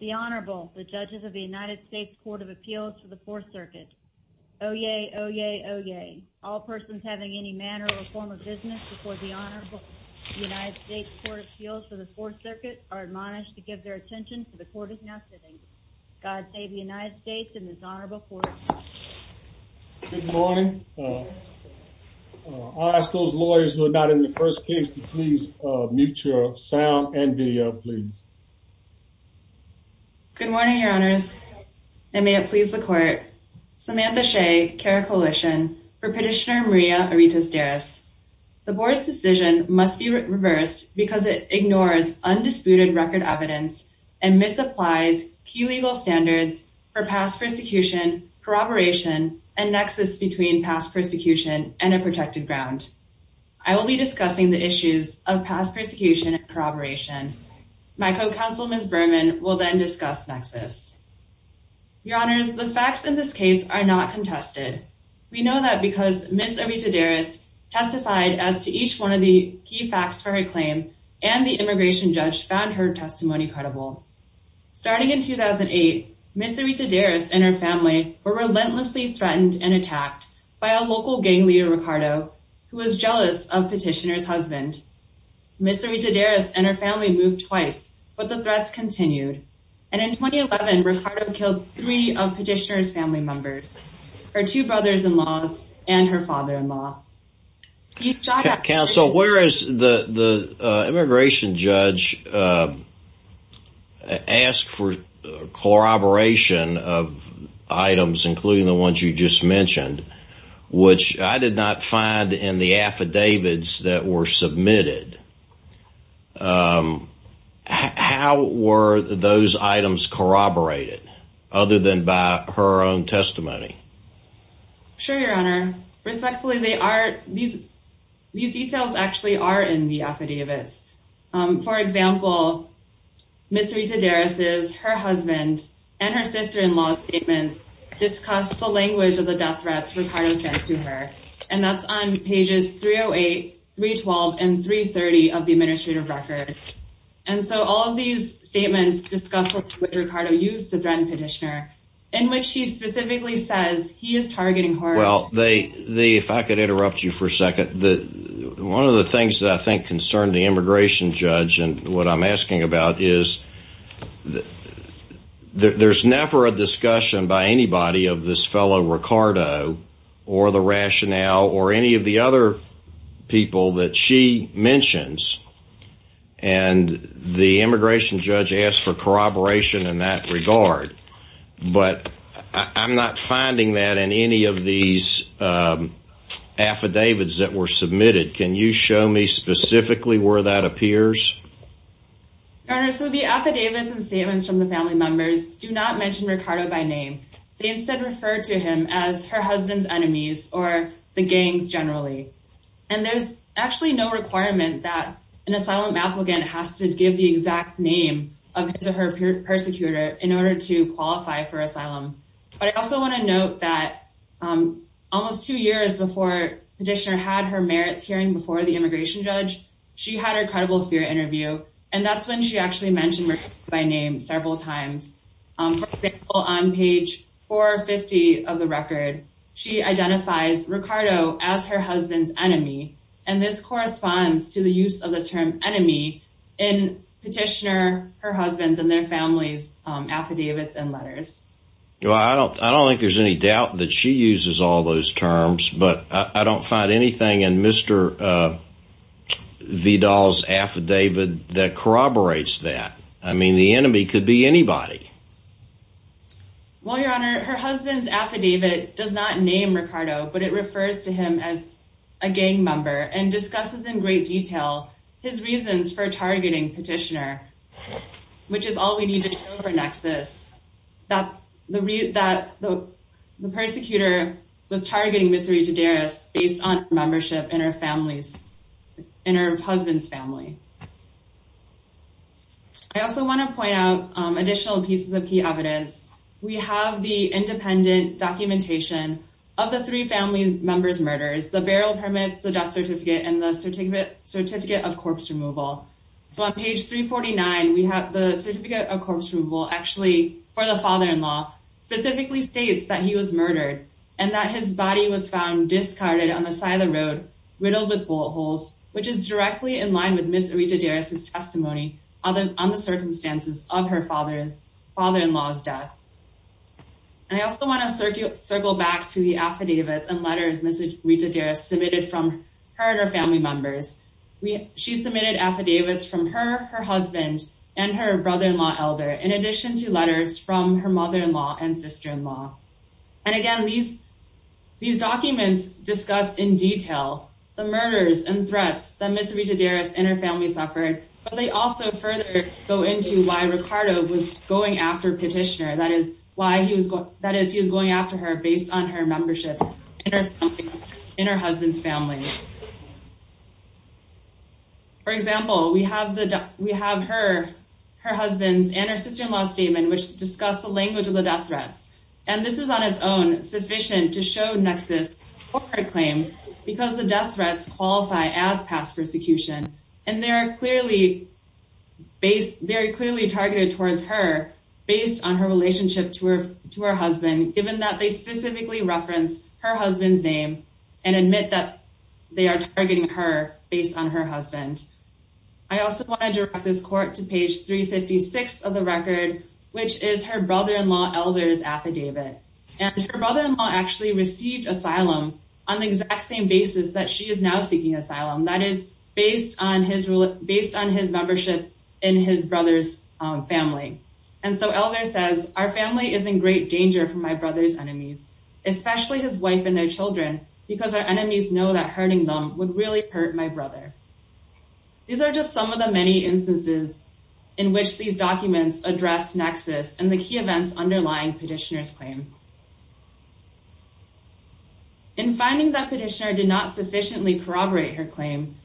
The Honorable, the Judges of the United States Court of Appeals for the Fourth Circuit. Oyez, oyez, oyez. All persons having any manner or form of business before the Honorable United States Court of Appeals for the Fourth Circuit are admonished to give their attention to the court is now sitting. God save the United States and this Honorable Court of Appeals. Good morning. I'll ask those lawyers who are not in the first case to please mute your sound and video, please. Good morning, Your Honors. And may it please the court. Samantha Shea, CARA Coalition for Petitioner Maria Arita-Deras. The board's decision must be reversed because it ignores undisputed record evidence and misapplies key legal standards for past persecution, corroboration, and nexus between past persecution and a protected ground. I will be discussing the issues of past persecution and corroboration. My co-counsel, Ms. Berman, will then discuss nexus. Your Honors, the facts in this case are not contested. We know that because Ms. Arita-Deras testified as to each one of the key facts for her claim and the immigration judge found her testimony credible. Starting in 2008, Ms. Arita-Deras and her family were relentlessly threatened and attacked by a local gang leader, Ricardo, who was jealous of petitioner's husband. Ms. Arita-Deras and her family moved twice, but the threats continued. And in 2011, Ricardo killed three of petitioner's family members, her two brothers-in-law and her father-in-law. Counsel, whereas the immigration judge asked for corroboration of items, including the ones you just mentioned, which I did not find in the affidavits that were submitted, how were those items corroborated other than by her own testimony? Sure, Your Honor. Respectfully, these details actually are in the affidavits. For example, Ms. Arita-Deras' husband and her sister-in-law's statements discuss the language of the death threats Ricardo sent to her. And that's on pages 308, 312, and 330 of the administrative record. And so all of these statements discuss what Ricardo used to threaten petitioner, in which she specifically says he is targeting her. If I could interrupt you for a second. One of the things that I think concern the immigration judge and what I'm asking about is there's never a discussion by anybody of this fellow Ricardo or the rationale or any of the other people that she mentions. And the immigration judge asked for corroboration in that regard. But I'm not finding that in any of these affidavits that were submitted. Can you show me specifically where that appears? Your Honor, so the affidavits and statements from the family members do not mention Ricardo by name. They instead refer to him as her husband's enemies or the gangs generally. And there's actually no requirement that an asylum applicant has to give the exact name of his or her persecutor in order to qualify for asylum. But I also want to note that almost two years before petitioner had her merits hearing before the immigration judge, she had her credible fear interview. And that's when she actually mentioned Ricardo by name several times. For example, on page 450 of the record, she identifies Ricardo as her husband's enemy. And this corresponds to the use of the term enemy in petitioner, her husband's and their family's affidavits and letters. I don't think there's any doubt that she uses all those terms. But I don't find anything in Mr. Vidal's affidavit that corroborates that. I mean, the enemy could be anybody. Well, Your Honor, her husband's affidavit does not name Ricardo, but it refers to him as a gang member and discusses in great detail his reasons for targeting petitioner. Which is all we need to know for nexus, that the persecutor was targeting Ms. Rita Deris based on membership in her family's, in her husband's family. I also want to point out additional pieces of key evidence. We have the independent documentation of the three family members' murders, the barrel permits, the death certificate, and the certificate of corpse removal. So on page 349, we have the certificate of corpse removal actually for the father-in-law, specifically states that he was murdered and that his body was found discarded on the side of the road, riddled with bullet holes. Which is directly in line with Ms. Rita Deris' testimony on the circumstances of her father-in-law's death. And I also want to circle back to the affidavits and letters Ms. Rita Deris submitted from her and her family members. She submitted affidavits from her, her husband, and her brother-in-law elder, in addition to letters from her mother-in-law and sister-in-law. And again, these documents discuss in detail the murders and threats that Ms. Rita Deris and her family suffered. But they also further go into why Ricardo was going after petitioner, that is, he was going after her based on her membership in her husband's family. For example, we have her, her husband's, and her sister-in-law's statement, which discuss the language of the death threats. And this is on its own sufficient to show Nexus' corporate claim because the death threats qualify as past persecution. And they are clearly targeted towards her based on her relationship to her husband, given that they specifically reference her husband's name and admit that they are targeting her based on her husband. I also want to direct this court to page 356 of the record, which is her brother-in-law elder's affidavit. And her brother-in-law actually received asylum on the exact same basis that she is now seeking asylum, that is, based on his membership in his brother's family. And so elder says, our family is in great danger from my brother's enemies, especially his wife and their children, because our enemies know that hurting them would really hurt my brother. These are just some of the many instances in which these documents address Nexus and the key events underlying Petitioner's claim. In finding that Petitioner did not sufficiently corroborate her claim,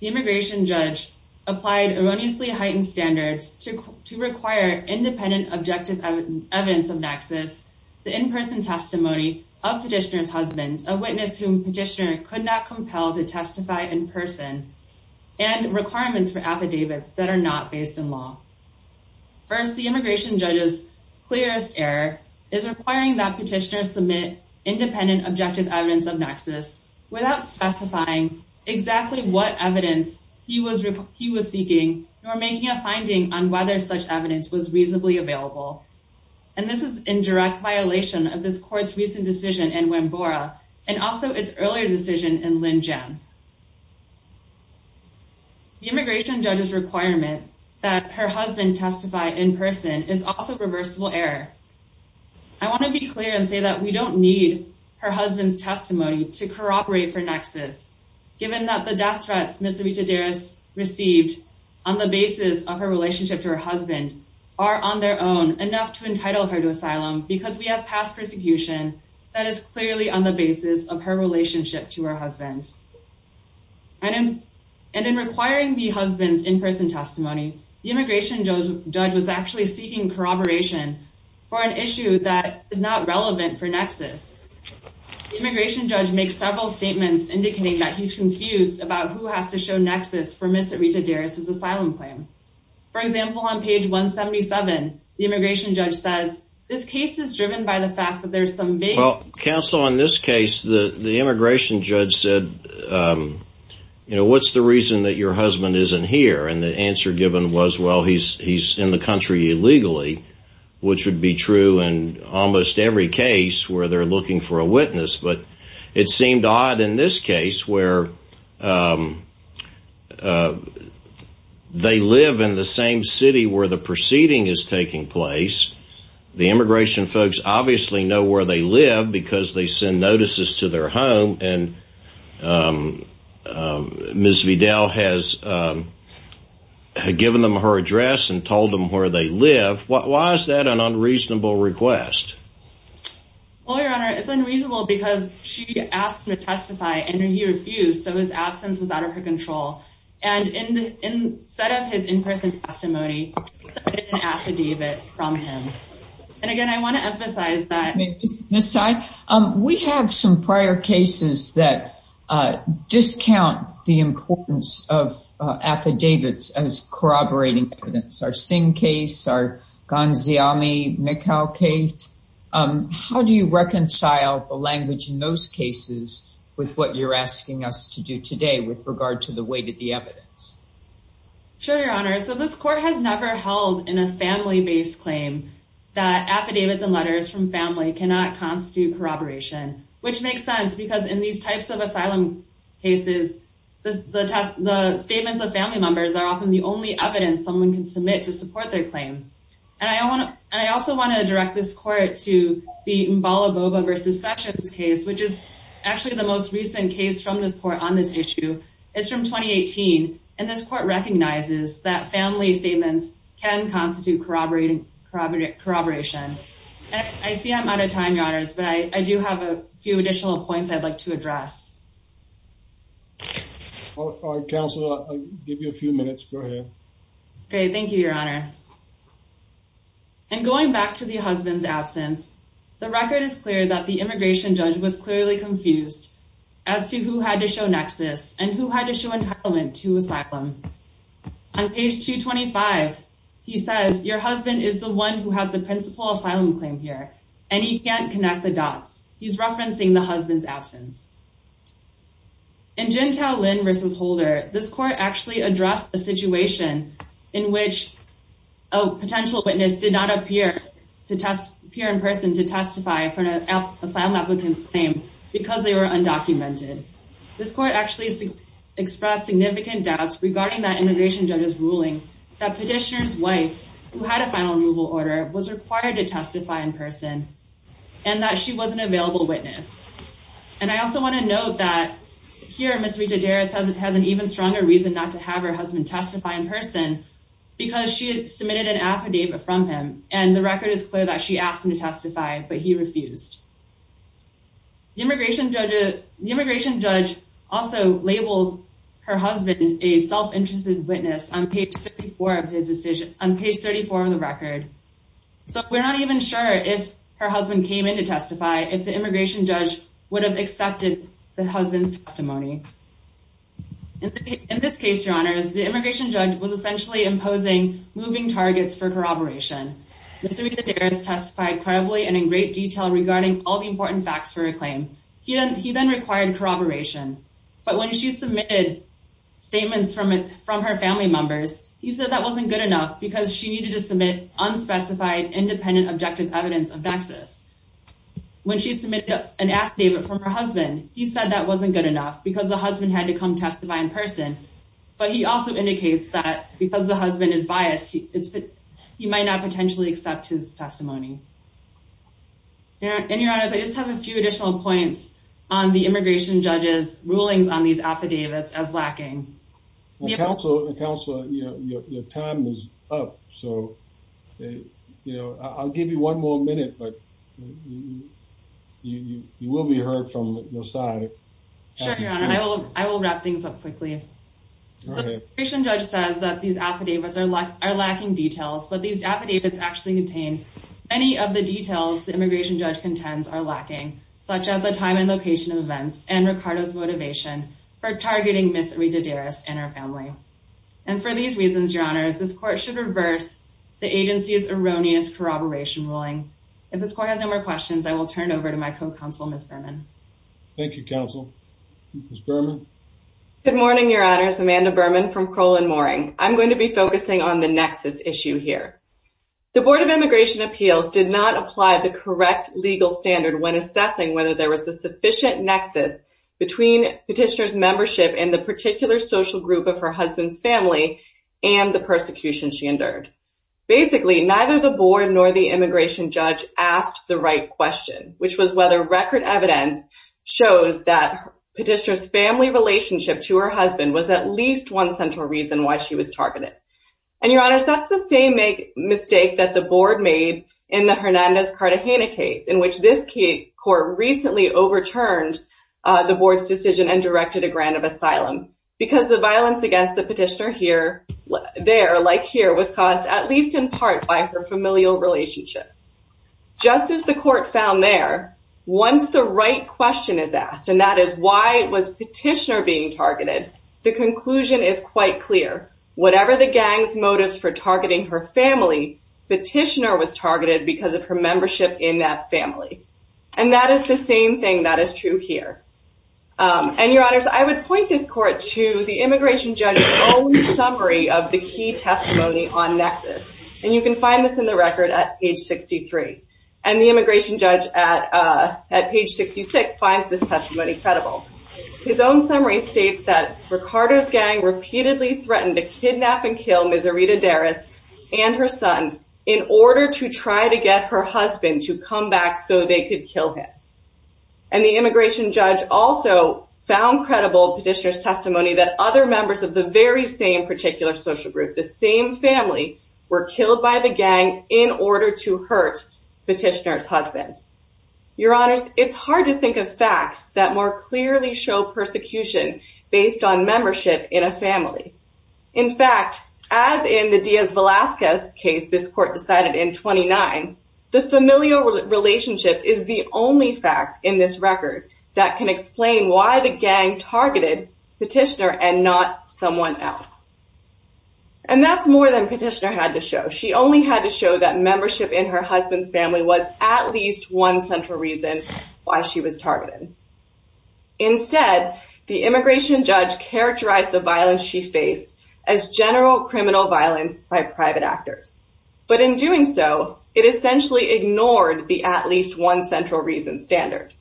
the immigration judge applied erroneously heightened standards to require independent objective evidence of Nexus, the in-person testimony of Petitioner's husband, a witness whom Petitioner could not compel to testify in person, and requirements for affidavits that are not based in law. First, the immigration judge's clearest error is requiring that Petitioner submit independent objective evidence of Nexus without specifying exactly what evidence he was seeking or making a finding on whether such evidence was reasonably available. And this is in direct violation of this court's recent decision in Wambora and also its earlier decision in Linjam. The immigration judge's requirement that her husband testify in person is also reversible error. I want to be clear and say that we don't need her husband's testimony to corroborate for Nexus, given that the death threats Ms. Rita Deris received on the basis of her relationship to her husband are on their own enough to entitle her to asylum because we have past persecution that is clearly on the basis of her relationship to her husband. And in requiring the husband's in-person testimony, the immigration judge was actually seeking corroboration for an issue that is not relevant for Nexus. The immigration judge makes several statements indicating that he's confused about who has to show Nexus for Ms. Rita Deris's asylum claim. For example, on page 177, the immigration judge says, Well, counsel, in this case, the immigration judge said, you know, what's the reason that your husband isn't here? And the answer given was, well, he's he's in the country illegally, which would be true in almost every case where they're looking for a witness. But it seemed odd in this case where they live in the same city where the proceeding is taking place. The immigration folks obviously know where they live because they send notices to their home. And Ms. Vidal has given them her address and told them where they live. Why is that an unreasonable request? Well, Your Honor, it's unreasonable because she asked to testify and he refused. So his absence was out of her control. And instead of his in-person testimony, he submitted an affidavit from him. And again, I want to emphasize that. We have some prior cases that discount the importance of affidavits as corroborating evidence. Our Singh case, our Gonziami-McHale case. How do you reconcile the language in those cases with what you're asking us to do today with regard to the weight of the evidence? Sure, Your Honor. So this court has never held in a family-based claim that affidavits and letters from family cannot constitute corroboration, which makes sense because in these types of asylum cases, the statements of family members are often the only evidence someone can submit to support their claim. And I also want to direct this court to the Mbalaboba v. Sessions case, which is actually the most recent case from this court on this issue. It's from 2018. And this court recognizes that family statements can constitute corroboration. I see I'm out of time, Your Honors, but I do have a few additional points I'd like to address. All right, Counselor, I'll give you a few minutes. Go ahead. Great. Thank you, Your Honor. In going back to the husband's absence, the record is clear that the immigration judge was clearly confused as to who had to show nexus and who had to show entitlement to asylum. On page 225, he says, Your husband is the one who has the principal asylum claim here, and he can't connect the dots. He's referencing the husband's absence. In Gentile Lynn v. Holder, this court actually addressed a situation in which a potential witness did not appear in person to testify for an asylum applicant's claim because they were undocumented. This court actually expressed significant doubts regarding that immigration judge's ruling that petitioner's wife, who had a final removal order, was required to testify in person and that she was an available witness. And I also want to note that here, Ms. Rita Deris has an even stronger reason not to have her husband testify in person because she submitted an affidavit from him, and the record is clear that she asked him to testify, but he refused. The immigration judge also labels her husband a self-interested witness on page 34 of the record. So we're not even sure if her husband came in to testify, if the immigration judge would have accepted the husband's testimony. In this case, Your Honor, the immigration judge was essentially imposing moving targets for corroboration. Mr. Rita Deris testified credibly and in great detail regarding all the important facts for her claim. He then required corroboration, but when she submitted statements from her family members, he said that wasn't good enough because she needed to submit unspecified, independent, objective evidence of nexus. When she submitted an affidavit from her husband, he said that wasn't good enough because the husband had to come testify in person. But he also indicates that because the husband is biased, he might not potentially accept his testimony. Your Honor, I just have a few additional points on the immigration judge's rulings on these affidavits as lacking. Counselor, your time is up, so I'll give you one more minute, but you will be heard from your side. Sure, Your Honor. I will wrap things up quickly. The immigration judge says that these affidavits are lacking details, but these affidavits actually contain many of the details the immigration judge contends are lacking, such as the time and location of events and Ricardo's motivation for targeting Ms. Rita Deris and her family. And for these reasons, Your Honor, this court should reverse the agency's erroneous corroboration ruling. If this court has no more questions, I will turn it over to my co-counsel, Ms. Berman. Thank you, Counsel. Ms. Berman? Good morning, Your Honor. It's Amanda Berman from Kroll & Moring. I'm going to be focusing on the nexus issue here. The Board of Immigration Appeals did not apply the correct legal standard when assessing whether there was a sufficient nexus between Petitioner's membership in the particular social group of her husband's family and the persecution she endured. Basically, neither the board nor the immigration judge asked the right question, which was whether record evidence shows that Petitioner's family relationship to her husband was at least one central reason why she was targeted. And, Your Honor, that's the same mistake that the board made in the Hernandez-Cartagena case, in which this court recently overturned the board's decision and directed a grant of asylum, because the violence against the petitioner there, like here, was caused at least in part by her familial relationship. Just as the court found there, once the right question is asked, and that is why was Petitioner being targeted, the conclusion is quite clear. Whatever the gang's motives for targeting her family, Petitioner was targeted because of her membership in that family. And that is the same thing that is true here. And, Your Honors, I would point this court to the immigration judge's own summary of the key testimony on nexus. And you can find this in the record at page 63. And the immigration judge at page 66 finds this testimony credible. His own summary states that Ricardo's gang repeatedly threatened to kidnap and kill Miserita Derris and her son in order to try to get her husband to come back so they could kill him. And the immigration judge also found credible Petitioner's testimony that other members of the very same particular social group, the same family, were killed by the gang in order to hurt Petitioner's husband. Your Honors, it's hard to think of facts that more clearly show persecution based on membership in a family. In fact, as in the Diaz-Velasquez case this court decided in 29, the familial relationship is the only fact in this record that can explain why the gang targeted Petitioner and not someone else. And that's more than Petitioner had to show. She only had to show that membership in her husband's family was at least one central reason why she was targeted. Instead, the immigration judge characterized the violence she faced as general criminal violence by private actors. But in doing so, it essentially ignored the at least one central reason standard.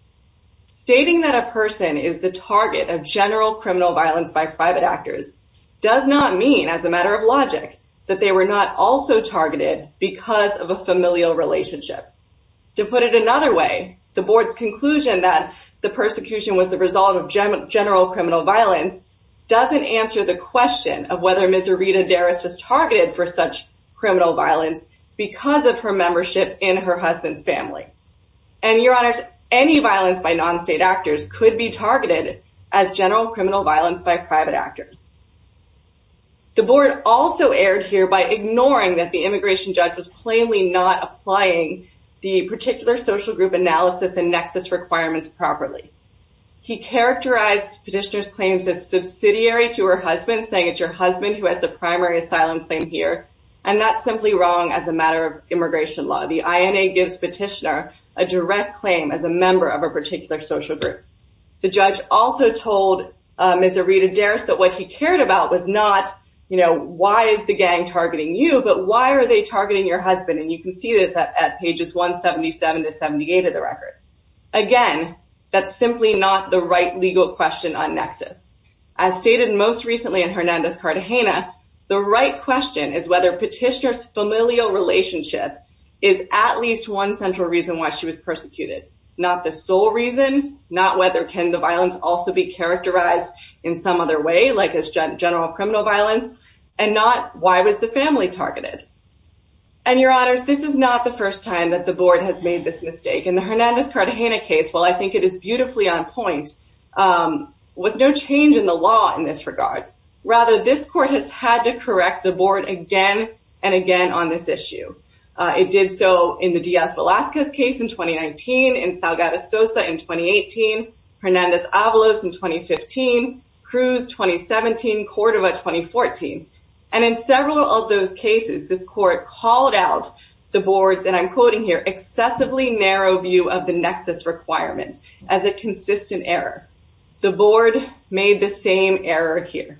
Stating that a person is the target of general criminal violence by private actors does not mean, as a matter of logic, that they were not also targeted because of a familial relationship. To put it another way, the board's conclusion that the persecution was the result of general criminal violence doesn't answer the question of whether Ms. Rita Derris was targeted for such criminal violence because of her membership in her husband's family. And, Your Honors, any violence by non-state actors could be targeted as general criminal violence by private actors. The board also erred here by ignoring that the immigration judge was plainly not applying the particular social group analysis and nexus requirements properly. He characterized Petitioner's claims as subsidiary to her husband, saying it's your husband who has the primary asylum claim here. And that's simply wrong as a matter of immigration law. The INA gives Petitioner a direct claim as a member of a particular social group. The judge also told Ms. Rita Derris that what he cared about was not, you know, why is the gang targeting you, but why are they targeting your husband? And you can see this at pages 177 to 78 of the record. Again, that's simply not the right legal question on nexus. As stated most recently in Hernandez-Cartagena, the right question is whether Petitioner's familial relationship is at least one central reason why she was persecuted. Not the sole reason, not whether can the violence also be characterized in some other way, like as general criminal violence, and not why was the family targeted. And, Your Honors, this is not the first time that the board has made this mistake. In the Hernandez-Cartagena case, while I think it is beautifully on point, was no change in the law in this regard. Rather, this court has had to correct the board again and again on this issue. It did so in the Diaz-Velasquez case in 2019, in Salgado-Sosa in 2018, Hernandez-Avalos in 2015, Cruz 2017, Cordova 2014. And in several of those cases, this court called out the board's, and I'm quoting here, excessively narrow view of the nexus requirement as a consistent error. The board made the same error here.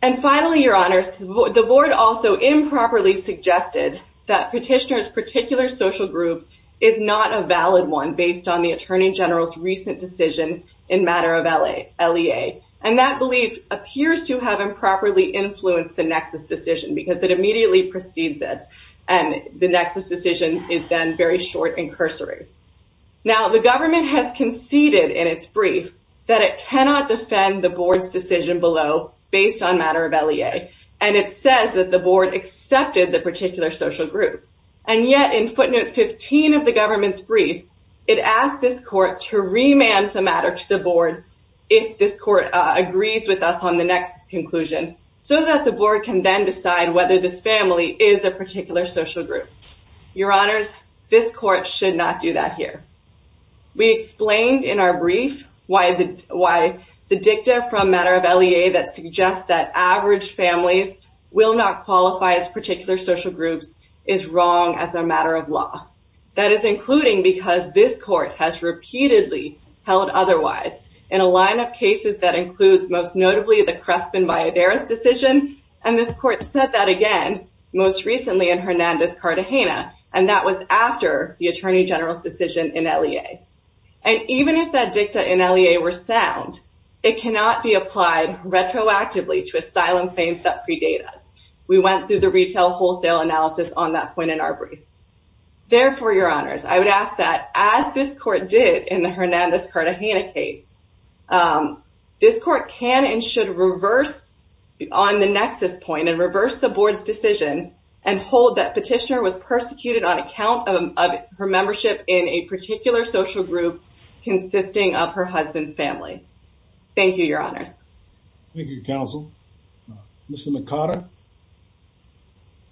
And finally, Your Honors, the board also improperly suggested that Petitioner's particular social group is not a valid one based on the Attorney General's recent decision in matter of LEA. And that belief appears to have improperly influenced the nexus decision because it immediately precedes it. And the nexus decision is then very short and cursory. Now, the government has conceded in its brief that it cannot defend the board's decision below based on matter of LEA. And it says that the board accepted the particular social group. And yet in footnote 15 of the government's brief, it asked this court to remand the matter to the board if this court agrees with us on the nexus conclusion, so that the board can then decide whether this family is a particular social group. Your Honors, this court should not do that here. We explained in our brief why the dicta from matter of LEA that suggests that average families will not qualify as particular social groups is wrong as a matter of law. That is including because this court has repeatedly held otherwise in a line of cases that includes most notably the Crespin-Valladares decision. And this court said that again most recently in Hernandez-Cartagena. And that was after the Attorney General's decision in LEA. And even if that dicta in LEA were sound, it cannot be applied retroactively to asylum claims that predate us. We went through the retail wholesale analysis on that point in our brief. Therefore, Your Honors, I would ask that as this court did in the Hernandez-Cartagena case, this court can and should reverse on the nexus point and reverse the board's decision and hold that petitioner was persecuted on account of her membership in a particular social group consisting of her husband's family. Thank you, Your Honors. Thank you, Counsel. Mr. Mercado.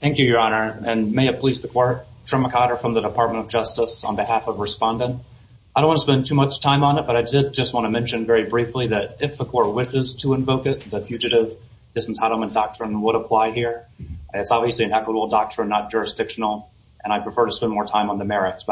Thank you, Your Honor. And may it please the court, Trema Mercado from the Department of Justice on behalf of Respondent. I don't want to spend too much time on it, but I did just want to mention very briefly that if the court wishes to invoke it, the Fugitive Disentitlement Doctrine would apply here. It's obviously an equitable doctrine, not jurisdictional, and I prefer to spend more time on the merits.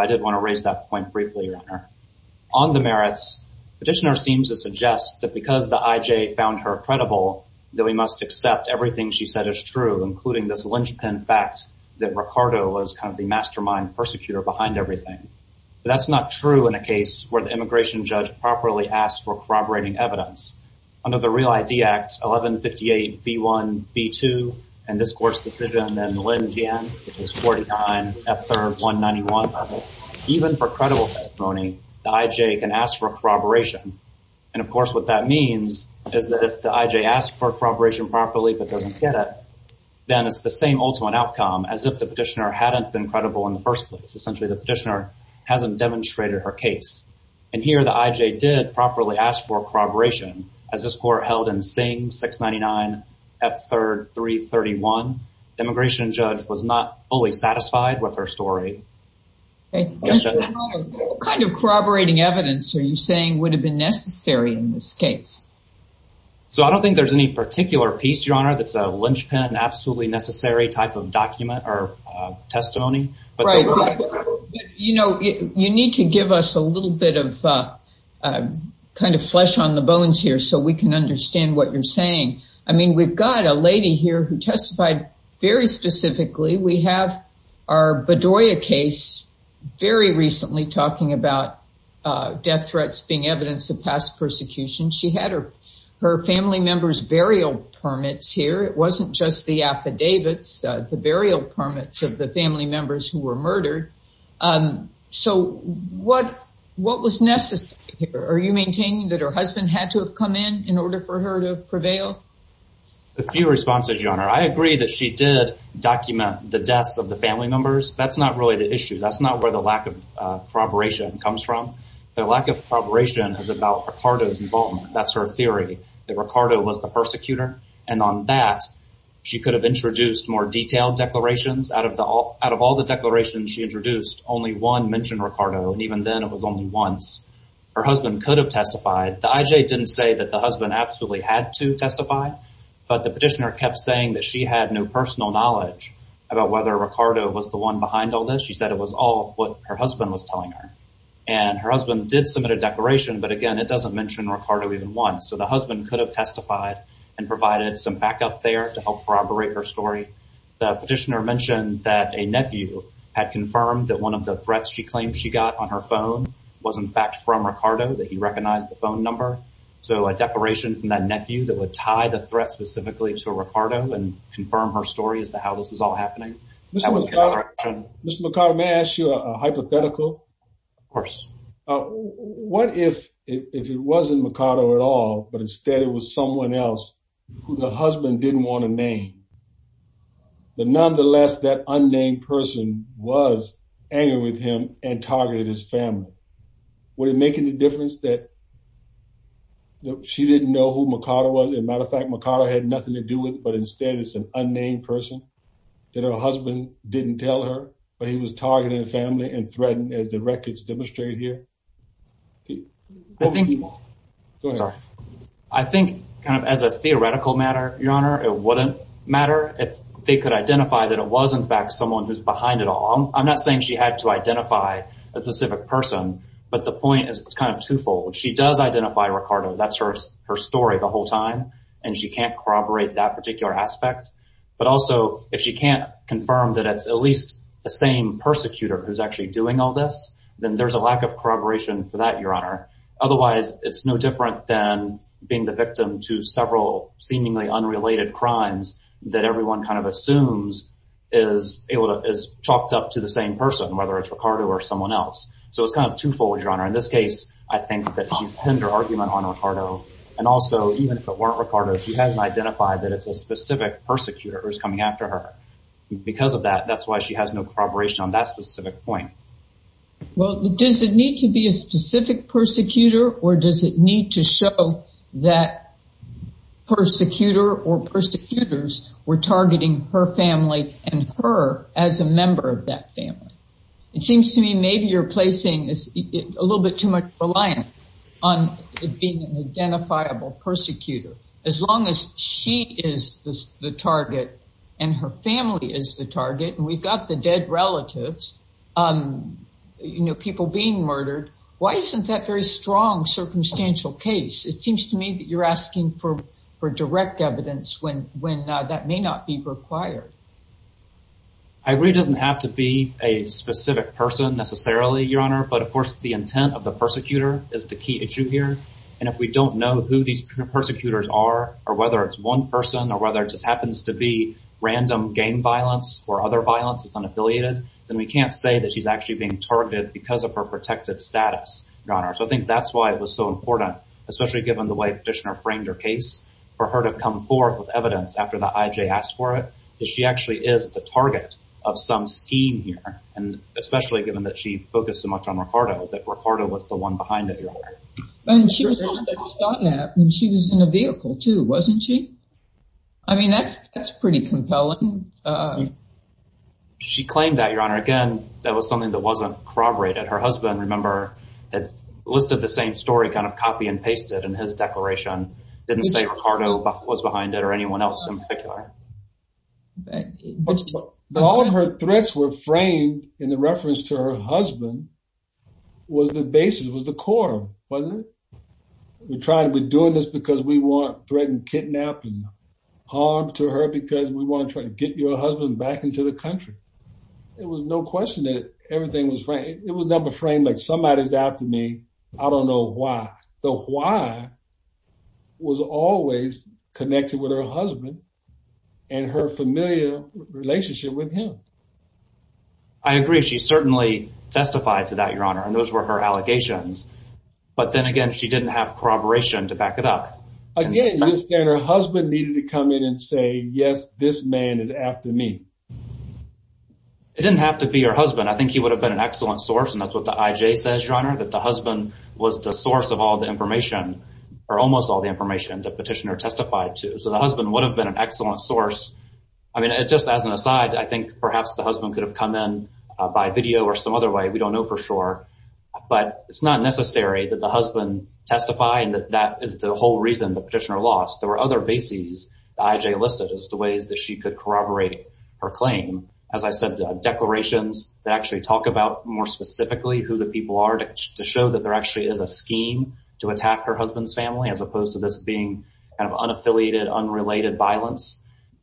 Petitioner seems to suggest that because the IJ found her credible, that we must accept everything she said is true, including this linchpin fact that Mercado was kind of the mastermind persecutor behind everything. But that's not true in a case where the immigration judge properly asked for corroborating evidence. Under the Real ID Act 1158B1B2 and this court's decision, then Linn Jan, which is 49F3R191, even for credible testimony, the IJ can ask for corroboration. And, of course, what that means is that if the IJ asks for corroboration properly but doesn't get it, then it's the same ultimate outcome as if the petitioner hadn't been credible in the first place. Essentially, the petitioner hasn't demonstrated her case. And here the IJ did properly ask for corroboration. As this court held in Singh 699F3R331, the immigration judge was not fully satisfied with her story. What kind of corroborating evidence are you saying would have been necessary in this case? So I don't think there's any particular piece, Your Honor, that's a linchpin, absolutely necessary type of document or testimony. You know, you need to give us a little bit of kind of flesh on the bones here so we can understand what you're saying. I mean, we've got a lady here who testified very specifically. We have our Bedoya case very recently talking about death threats being evidence of past persecution. She had her family members' burial permits here. It wasn't just the affidavits, the burial permits of the family members who were murdered. So what was necessary? Are you maintaining that her husband had to have come in in order for her to prevail? A few responses, Your Honor. I agree that she did document the deaths of the family members. That's not really the issue. That's not where the lack of corroboration comes from. The lack of corroboration is about Ricardo's involvement. That's her theory, that Ricardo was the persecutor. And on that, she could have introduced more detailed declarations. Out of all the declarations she introduced, only one mentioned Ricardo, and even then it was only once. Her husband could have testified. The IJ didn't say that the husband absolutely had to testify, but the petitioner kept saying that she had no personal knowledge about whether Ricardo was the one behind all this. She said it was all what her husband was telling her. And her husband did submit a declaration, but, again, it doesn't mention Ricardo even once. So the husband could have testified and provided some backup there to help corroborate her story. The petitioner mentioned that a nephew had confirmed that one of the threats she claimed she got on her phone was, in fact, from Ricardo, that he recognized the phone number. So a declaration from that nephew that would tie the threat specifically to Ricardo and confirm her story as to how this is all happening. Mr. Mercado, may I ask you a hypothetical? Of course. What if it wasn't Ricardo at all, but instead it was someone else who the husband didn't want to name, but nonetheless that unnamed person was angry with him and targeted his family? Would it make any difference that she didn't know who Ricardo was? As a matter of fact, Ricardo had nothing to do with it, but instead it's an unnamed person that her husband didn't tell her, but he was targeting the family and threatening, as the records demonstrate here. Go ahead. I think kind of as a theoretical matter, Your Honor, it wouldn't matter if they could identify that it was, in fact, someone who's behind it all. I'm not saying she had to identify a specific person, but the point is it's kind of twofold. She does identify Ricardo. That's her story the whole time, and she can't corroborate that particular aspect. But also, if she can't confirm that it's at least the same persecutor who's actually doing all this, then there's a lack of corroboration for that, Your Honor. Otherwise, it's no different than being the victim to several seemingly unrelated crimes that everyone kind of assumes is chalked up to the same person, whether it's Ricardo or someone else. So it's kind of twofold, Your Honor. In this case, I think that she's pinned her argument on Ricardo, and also even if it weren't Ricardo, she hasn't identified that it's a specific persecutor who's coming after her. Because of that, that's why she has no corroboration on that specific point. Well, does it need to be a specific persecutor, or does it need to show that persecutor or persecutors were targeting her family and her as a member of that family? It seems to me maybe you're placing a little bit too much reliance on it being an identifiable persecutor. As long as she is the target and her family is the target, and we've got the dead relatives, people being murdered, why isn't that very strong circumstantial case? It seems to me that you're asking for direct evidence when that may not be required. I agree it doesn't have to be a specific person necessarily, Your Honor, but, of course, the intent of the persecutor is the key issue here. And if we don't know who these persecutors are or whether it's one person or whether it just happens to be random gang violence or other violence that's unaffiliated, then we can't say that she's actually being targeted because of her protected status, Your Honor. So I think that's why it was so important, especially given the way Fishner framed her case, for her to come forth with evidence after the IJ asked for it, that she actually is the target of some scheme here, and especially given that she focused so much on Ricardo, that Ricardo was the one behind it, Your Honor. And she was in a vehicle, too, wasn't she? I mean, that's pretty compelling. She claimed that, Your Honor. Again, that was something that wasn't corroborated. Her husband, remember, had listed the same story kind of copy and pasted in his declaration. Didn't say Ricardo was behind it or anyone else in particular. All of her threats were framed in the reference to her husband was the basis, was the core, wasn't it? We're doing this because we want threatened, kidnapped, and harmed to her because we want to try to get your husband back into the country. It was no question that everything was framed. It was never framed like somebody's after me. I don't know why. The why was always connected with her husband and her familiar relationship with him. I agree. She certainly testified to that, Your Honor, and those were her allegations. But then again, she didn't have corroboration to back it up. Again, her husband needed to come in and say, yes, this man is after me. It didn't have to be her husband. I think he would have been an excellent source, and that's what the IJ says, Your Honor, that the husband was the source of all the information or almost all the information the petitioner testified to. So the husband would have been an excellent source. I mean, just as an aside, I think perhaps the husband could have come in by video or some other way. We don't know for sure. But it's not necessary that the husband testify and that that is the whole reason the petitioner lost. There were other bases the IJ listed as the ways that she could corroborate her claim. As I said, declarations that actually talk about more specifically who the people are to show that there actually is a scheme to attack her husband's family, as opposed to this being kind of unaffiliated, unrelated violence.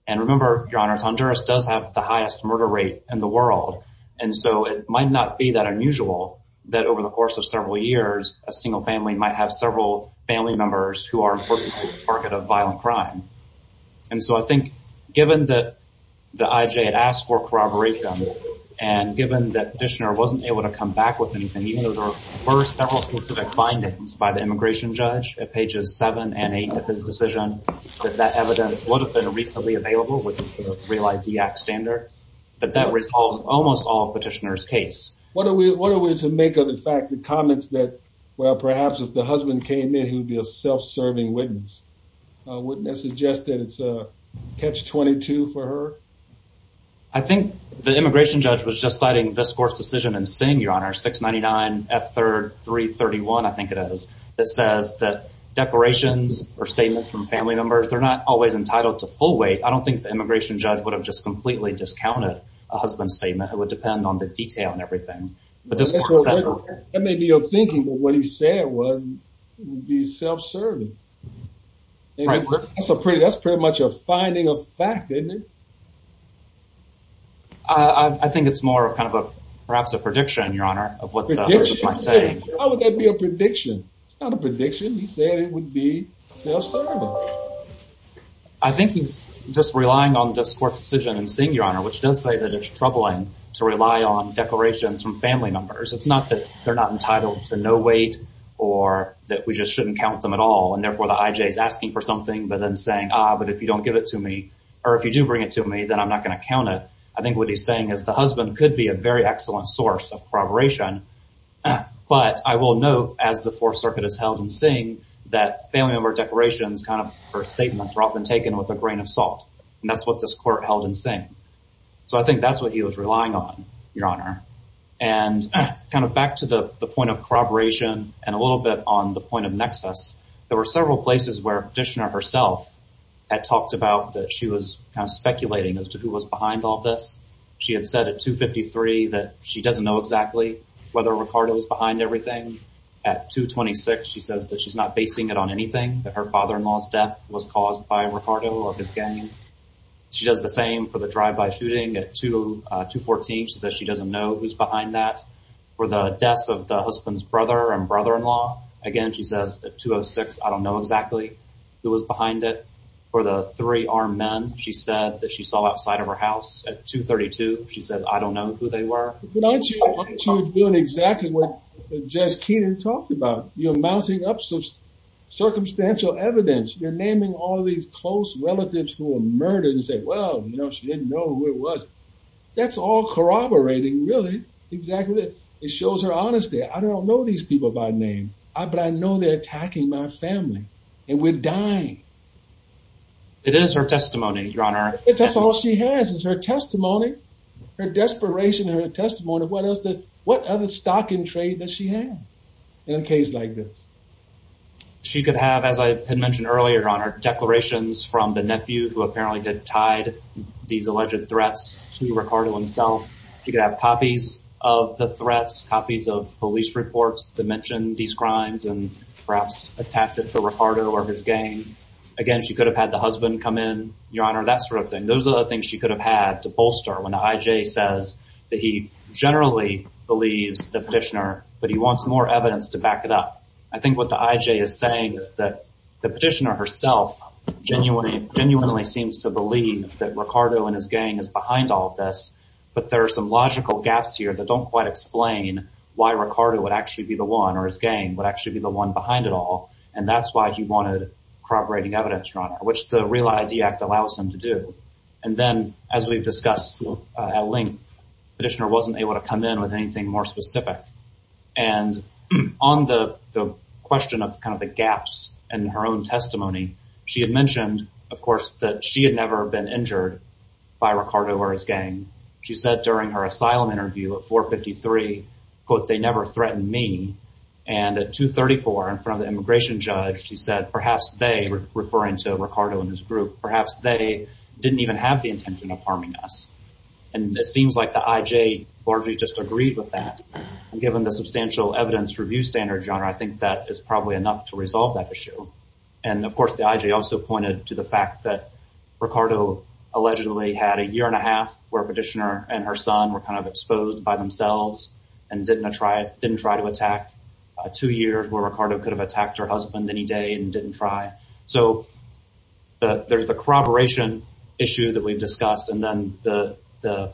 And remember, Your Honor, Tonduras does have the highest murder rate in the world, and so it might not be that unusual that over the course of several years, a single family might have several family members who are, unfortunately, the target of violent crime. And so I think given that the IJ had asked for corroboration, and given that the petitioner wasn't able to come back with anything, even though there were several specific findings by the immigration judge at pages 7 and 8 of his decision, that that evidence would have been reasonably available with the Real ID Act standard, that that resolved almost all of the petitioner's case. What are we to make of the fact, the comments that, well, perhaps if the husband came in, he would be a self-serving witness? Wouldn't that suggest that it's a catch-22 for her? I think the immigration judge was just citing this court's decision in Singh, Your Honor, 699F3331, I think it is, that says that declarations or statements from family members, they're not always entitled to full weight. I don't think the immigration judge would have just completely discounted a husband's statement. It would depend on the detail and everything. That may be your thinking, but what he said was he would be self-serving. That's pretty much a finding of fact, isn't it? I think it's more of kind of a, perhaps a prediction, Your Honor, of what the husband might say. How would that be a prediction? It's not a prediction. He said it would be self-serving. I think he's just relying on this court's decision in Singh, Your Honor, which does say that it's troubling to rely on declarations from family members. It's not that they're not entitled to no weight, or that we just shouldn't count them at all, and therefore the IJ is asking for something, but then saying, ah, but if you don't give it to me, or if you do bring it to me, then I'm not going to count it. I think what he's saying is the husband could be a very excellent source of corroboration, but I will note, as the Fourth Circuit has held in Singh, that family member declarations, kind of statements, are often taken with a grain of salt, and that's what this court held in Singh. So I think that's what he was relying on, Your Honor. And kind of back to the point of corroboration and a little bit on the point of nexus, there were several places where Dishner herself had talked about that she was kind of speculating as to who was behind all this. She had said at 253 that she doesn't know exactly whether Ricardo was behind everything. At 226, she says that she's not basing it on anything, that her father-in-law's death was caused by Ricardo or his gang. She does the same for the drive-by shooting at 214. She says she doesn't know who's behind that. For the deaths of the husband's brother and brother-in-law, again, she says at 206, I don't know exactly who was behind it. For the three armed men, she said, that she saw outside of her house at 232. She said, I don't know who they were. She was doing exactly what Jess Keenan talked about. You're mounting up some circumstantial evidence. You're naming all these close relatives who were murdered and say, well, you know, she didn't know who it was. That's all corroborating, really, exactly. It shows her honesty. I don't know these people by name, but I know they're attacking my family. And we're dying. It is her testimony, Your Honor. That's all she has is her testimony, her desperation and her testimony. What other stock in trade does she have in a case like this? She could have, as I had mentioned earlier, Your Honor, declarations from the nephew who apparently had tied these alleged threats to Ricardo himself. She could have copies of the threats, copies of police reports that mention these crimes and perhaps attach it to Ricardo or his gang. Again, she could have had the husband come in, Your Honor, that sort of thing. Those are the things she could have had to bolster when the IJ says that he generally believes the petitioner, but he wants more evidence to back it up. I think what the IJ is saying is that the petitioner herself genuinely seems to believe that Ricardo and his gang is behind all of this, but there are some logical gaps here that don't quite explain why Ricardo would actually be the one or his gang would actually be the one behind it all. That's why he wanted corroborating evidence, Your Honor, which the REAL ID Act allows him to do. Then, as we've discussed at length, the petitioner wasn't able to come in with anything more specific. On the question of the gaps in her own testimony, she had mentioned, of course, that she had never been injured by Ricardo or his gang. She said during her asylum interview at 453, quote, they never threatened me. At 234, in front of the immigration judge, she said, perhaps they, referring to Ricardo and his group, perhaps they didn't even have the intention of harming us. It seems like the IJ largely just agreed with that. Given the substantial evidence review standard, Your Honor, I think that is probably enough to resolve that issue. Of course, the IJ also pointed to the fact that Ricardo allegedly had a year and a half where a petitioner and her son were kind of exposed by themselves and didn't try to attack, two years where Ricardo could have attacked her husband any day and didn't try. So there's the corroboration issue that we've discussed, and then the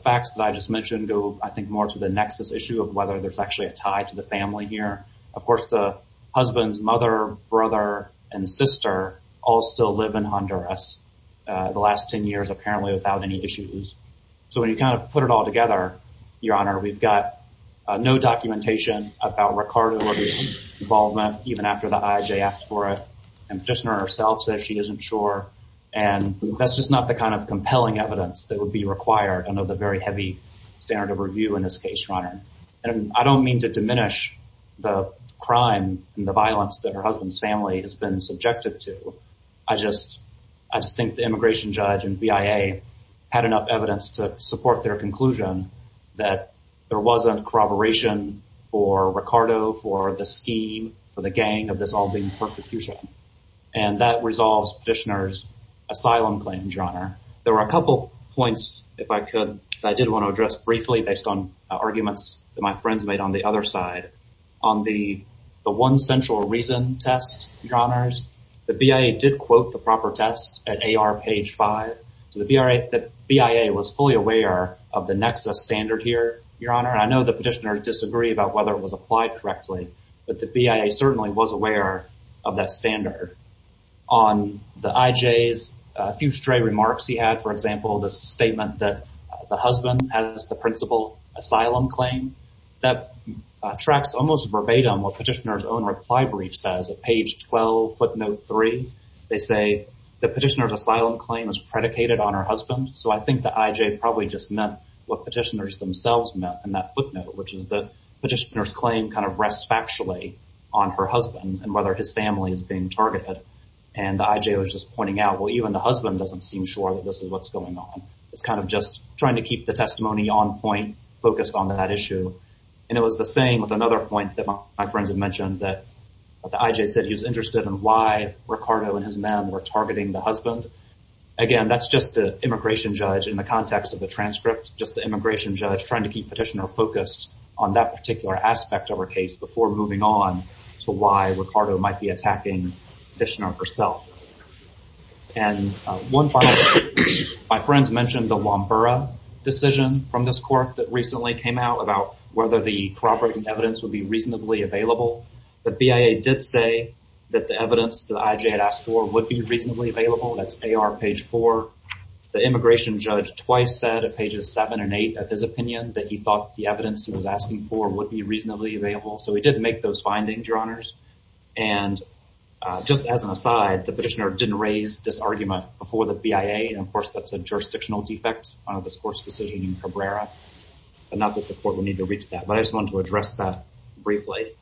facts that I just mentioned go, I think, more to the nexus issue of whether there's actually a tie to the family here. Of course, the husband's mother, brother, and sister all still live in Honduras the last 10 years, apparently without any issues. So when you kind of put it all together, Your Honor, we've got no documentation about Ricardo's involvement, even after the IJ asked for it. The petitioner herself says she isn't sure, and that's just not the kind of compelling evidence that would be required under the very heavy standard of review in this case, Your Honor. And I don't mean to diminish the crime and the violence that her husband's family has been subjected to. I just think the immigration judge and BIA had enough evidence to support their conclusion that there wasn't corroboration for Ricardo, for the scheme, for the gang of this all being persecution. And that resolves Petitioner's asylum claim, Your Honor. There were a couple points, if I could, that I did want to address briefly, based on arguments that my friends made on the other side. On the one central reason test, Your Honors, the BIA did quote the proper test at AR page 5. So the BIA was fully aware of the NEXA standard here, Your Honor. I know the petitioner disagreed about whether it was applied correctly, but the BIA certainly was aware of that standard. On the IJ's few stray remarks he had, for example, the statement that the husband has the principal asylum claim, that tracks almost verbatim what Petitioner's own reply brief says. At page 12, footnote 3, they say that Petitioner's asylum claim is predicated on her husband. So I think the IJ probably just meant what Petitioner's themselves meant in that footnote, which is that Petitioner's claim kind of rests factually on her husband and whether his family is being targeted. And the IJ was just pointing out, well, even the husband doesn't seem sure that this is what's going on. It's kind of just trying to keep the testimony on point, focused on that issue. And it was the same with another point that my friends had mentioned that the IJ said he was interested in why Ricardo and his men were targeting the husband. Again, that's just the immigration judge in the context of the transcript, just the immigration judge trying to keep Petitioner focused on that particular aspect of her case before moving on to why Ricardo might be attacking Petitioner herself. And one final point. My friends mentioned the Lombura decision from this court that recently came out about whether the corroborating evidence would be reasonably available. The BIA did say that the evidence that the IJ had asked for would be reasonably available. That's AR page 4. The immigration judge twice said at pages 7 and 8 of his opinion that he thought the evidence he was asking for would be reasonably available. So he did make those findings, Your Honors. And just as an aside, the Petitioner didn't raise this argument before the BIA, and, of course, that's a jurisdictional defect out of this court's decision in Cabrera. But not that the court would need to reach that. But I just wanted to address that briefly.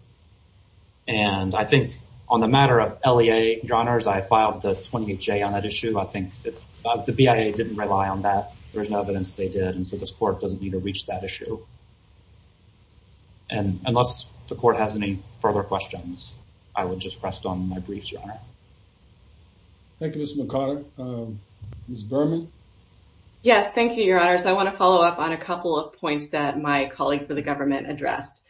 And I think on the matter of LEA, Your Honors, I filed the 28J on that issue. I think the BIA didn't rely on that. There's no evidence they did, and so this court doesn't need to reach that issue. And unless the court has any further questions, I would just rest on my briefs, Your Honor. Thank you, Ms. McConaughey. Ms. Berman? Yes, thank you, Your Honors. I want to follow up on a couple of points that my colleague for the government addressed.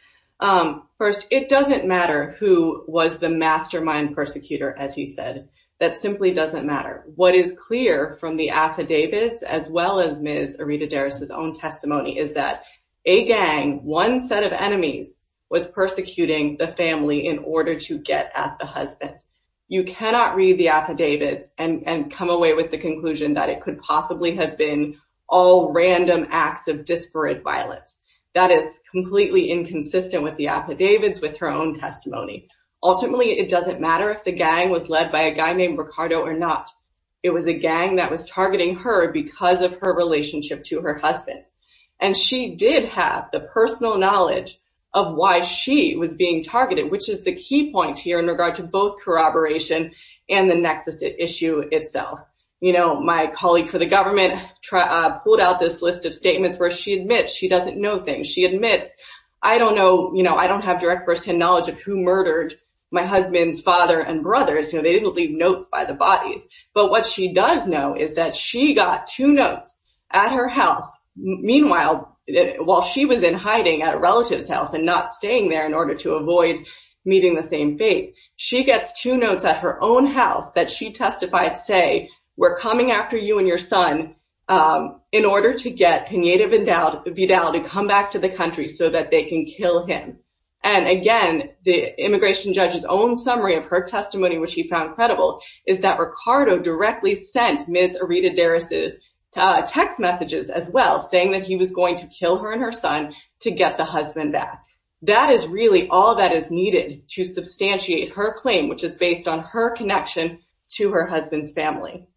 First, it doesn't matter who was the mastermind persecutor, as you said. That simply doesn't matter. What is clear from the affidavits, as well as Ms. Arita Deris' own testimony, is that a gang, one set of enemies, was persecuting the family in order to get at the husband. You cannot read the affidavits and come away with the conclusion that it could possibly have been all random acts of disparate violence. That is completely inconsistent with the affidavits, with her own testimony. Ultimately, it doesn't matter if the gang was led by a guy named Ricardo or not. It was a gang that was targeting her because of her relationship to her husband. And she did have the personal knowledge of why she was being targeted, which is the key point here in regard to both corroboration and the nexus issue itself. You know, my colleague for the government pulled out this list of statements where she admits she doesn't know things. She admits, I don't know, you know, I don't have direct personal knowledge of who murdered my husband's father and brothers. You know, they didn't leave notes by the bodies. But what she does know is that she got two notes at her house. Meanwhile, while she was in hiding at a relative's house and not staying there in order to avoid meeting the same fate, she gets two notes at her own house that she testified say, we're coming after you and your son in order to get Pineda Vidal to come back to the country so that they can kill him. And again, the immigration judge's own summary of her testimony, which he found credible, is that Ricardo directly sent Ms. Arita Deris' text messages as well, saying that he was going to kill her and her son to get the husband back. That is really all that is needed to substantiate her claim, which is based on her connection to her husband's family.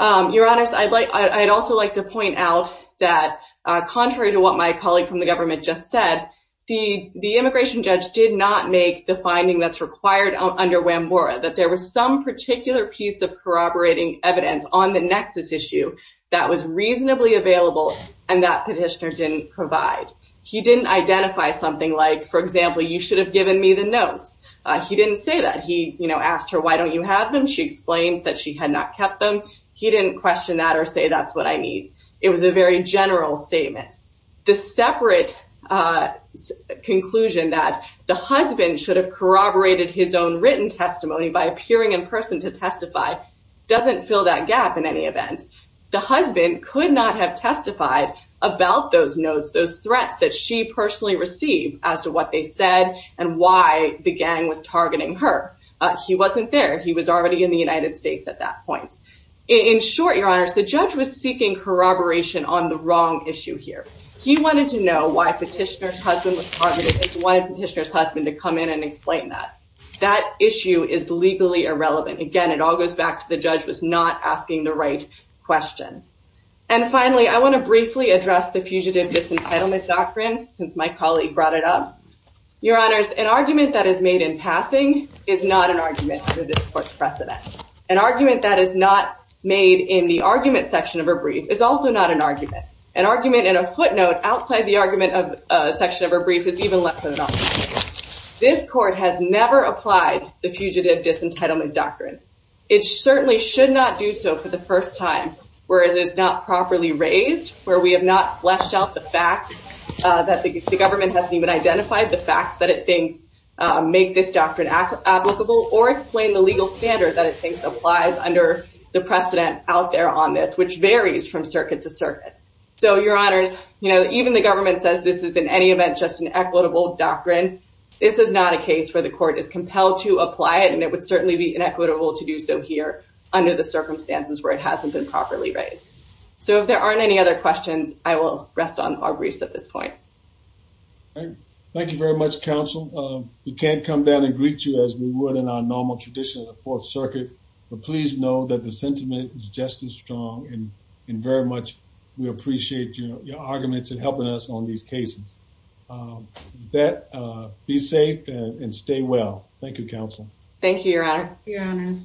Your Honor, I'd like I'd also like to point out that contrary to what my colleague from the government just said, the immigration judge did not make the finding that's required under Whambora, that there was some particular piece of corroborating evidence on the nexus issue that was reasonably available and that petitioner didn't provide. He didn't identify something like, for example, you should have given me the notes. He didn't say that. He asked her, why don't you have them? She explained that she had not kept them. He didn't question that or say that's what I need. It was a very general statement. The separate conclusion that the husband should have corroborated his own written testimony by appearing in person to testify doesn't fill that gap. The husband could not have testified about those notes, those threats that she personally received as to what they said and why the gang was targeting her. He wasn't there. He was already in the United States at that point. In short, Your Honor, the judge was seeking corroboration on the wrong issue here. He wanted to know why petitioner's husband was targeted. He wanted petitioner's husband to come in and explain that. That issue is legally irrelevant. Again, it all goes back to the judge was not asking the right question. And finally, I want to briefly address the Fugitive Disentitlement Doctrine since my colleague brought it up. Your Honors, an argument that is made in passing is not an argument under this Court's precedent. An argument that is not made in the argument section of a brief is also not an argument. An argument in a footnote outside the argument section of a brief is even less of an argument. This Court has never applied the Fugitive Disentitlement Doctrine. It certainly should not do so for the first time where it is not properly raised, where we have not fleshed out the facts, that the government hasn't even identified the facts that it thinks make this doctrine applicable or explain the legal standard that it thinks applies under the precedent out there on this, which varies from circuit to circuit. So, Your Honors, you know, even the government says this is in any event just an equitable doctrine. This is not a case where the Court is compelled to apply it. And it would certainly be inequitable to do so here under the circumstances where it hasn't been properly raised. So if there aren't any other questions, I will rest on our briefs at this point. Thank you very much, Counsel. We can't come down and greet you as we would in our normal tradition of the Fourth Circuit. But please know that the sentiment is just as strong. And very much, we appreciate your arguments and helping us on these cases. Be safe and stay well. Thank you, Counsel. Thank you, Your Honor. Thank you, Your Honors.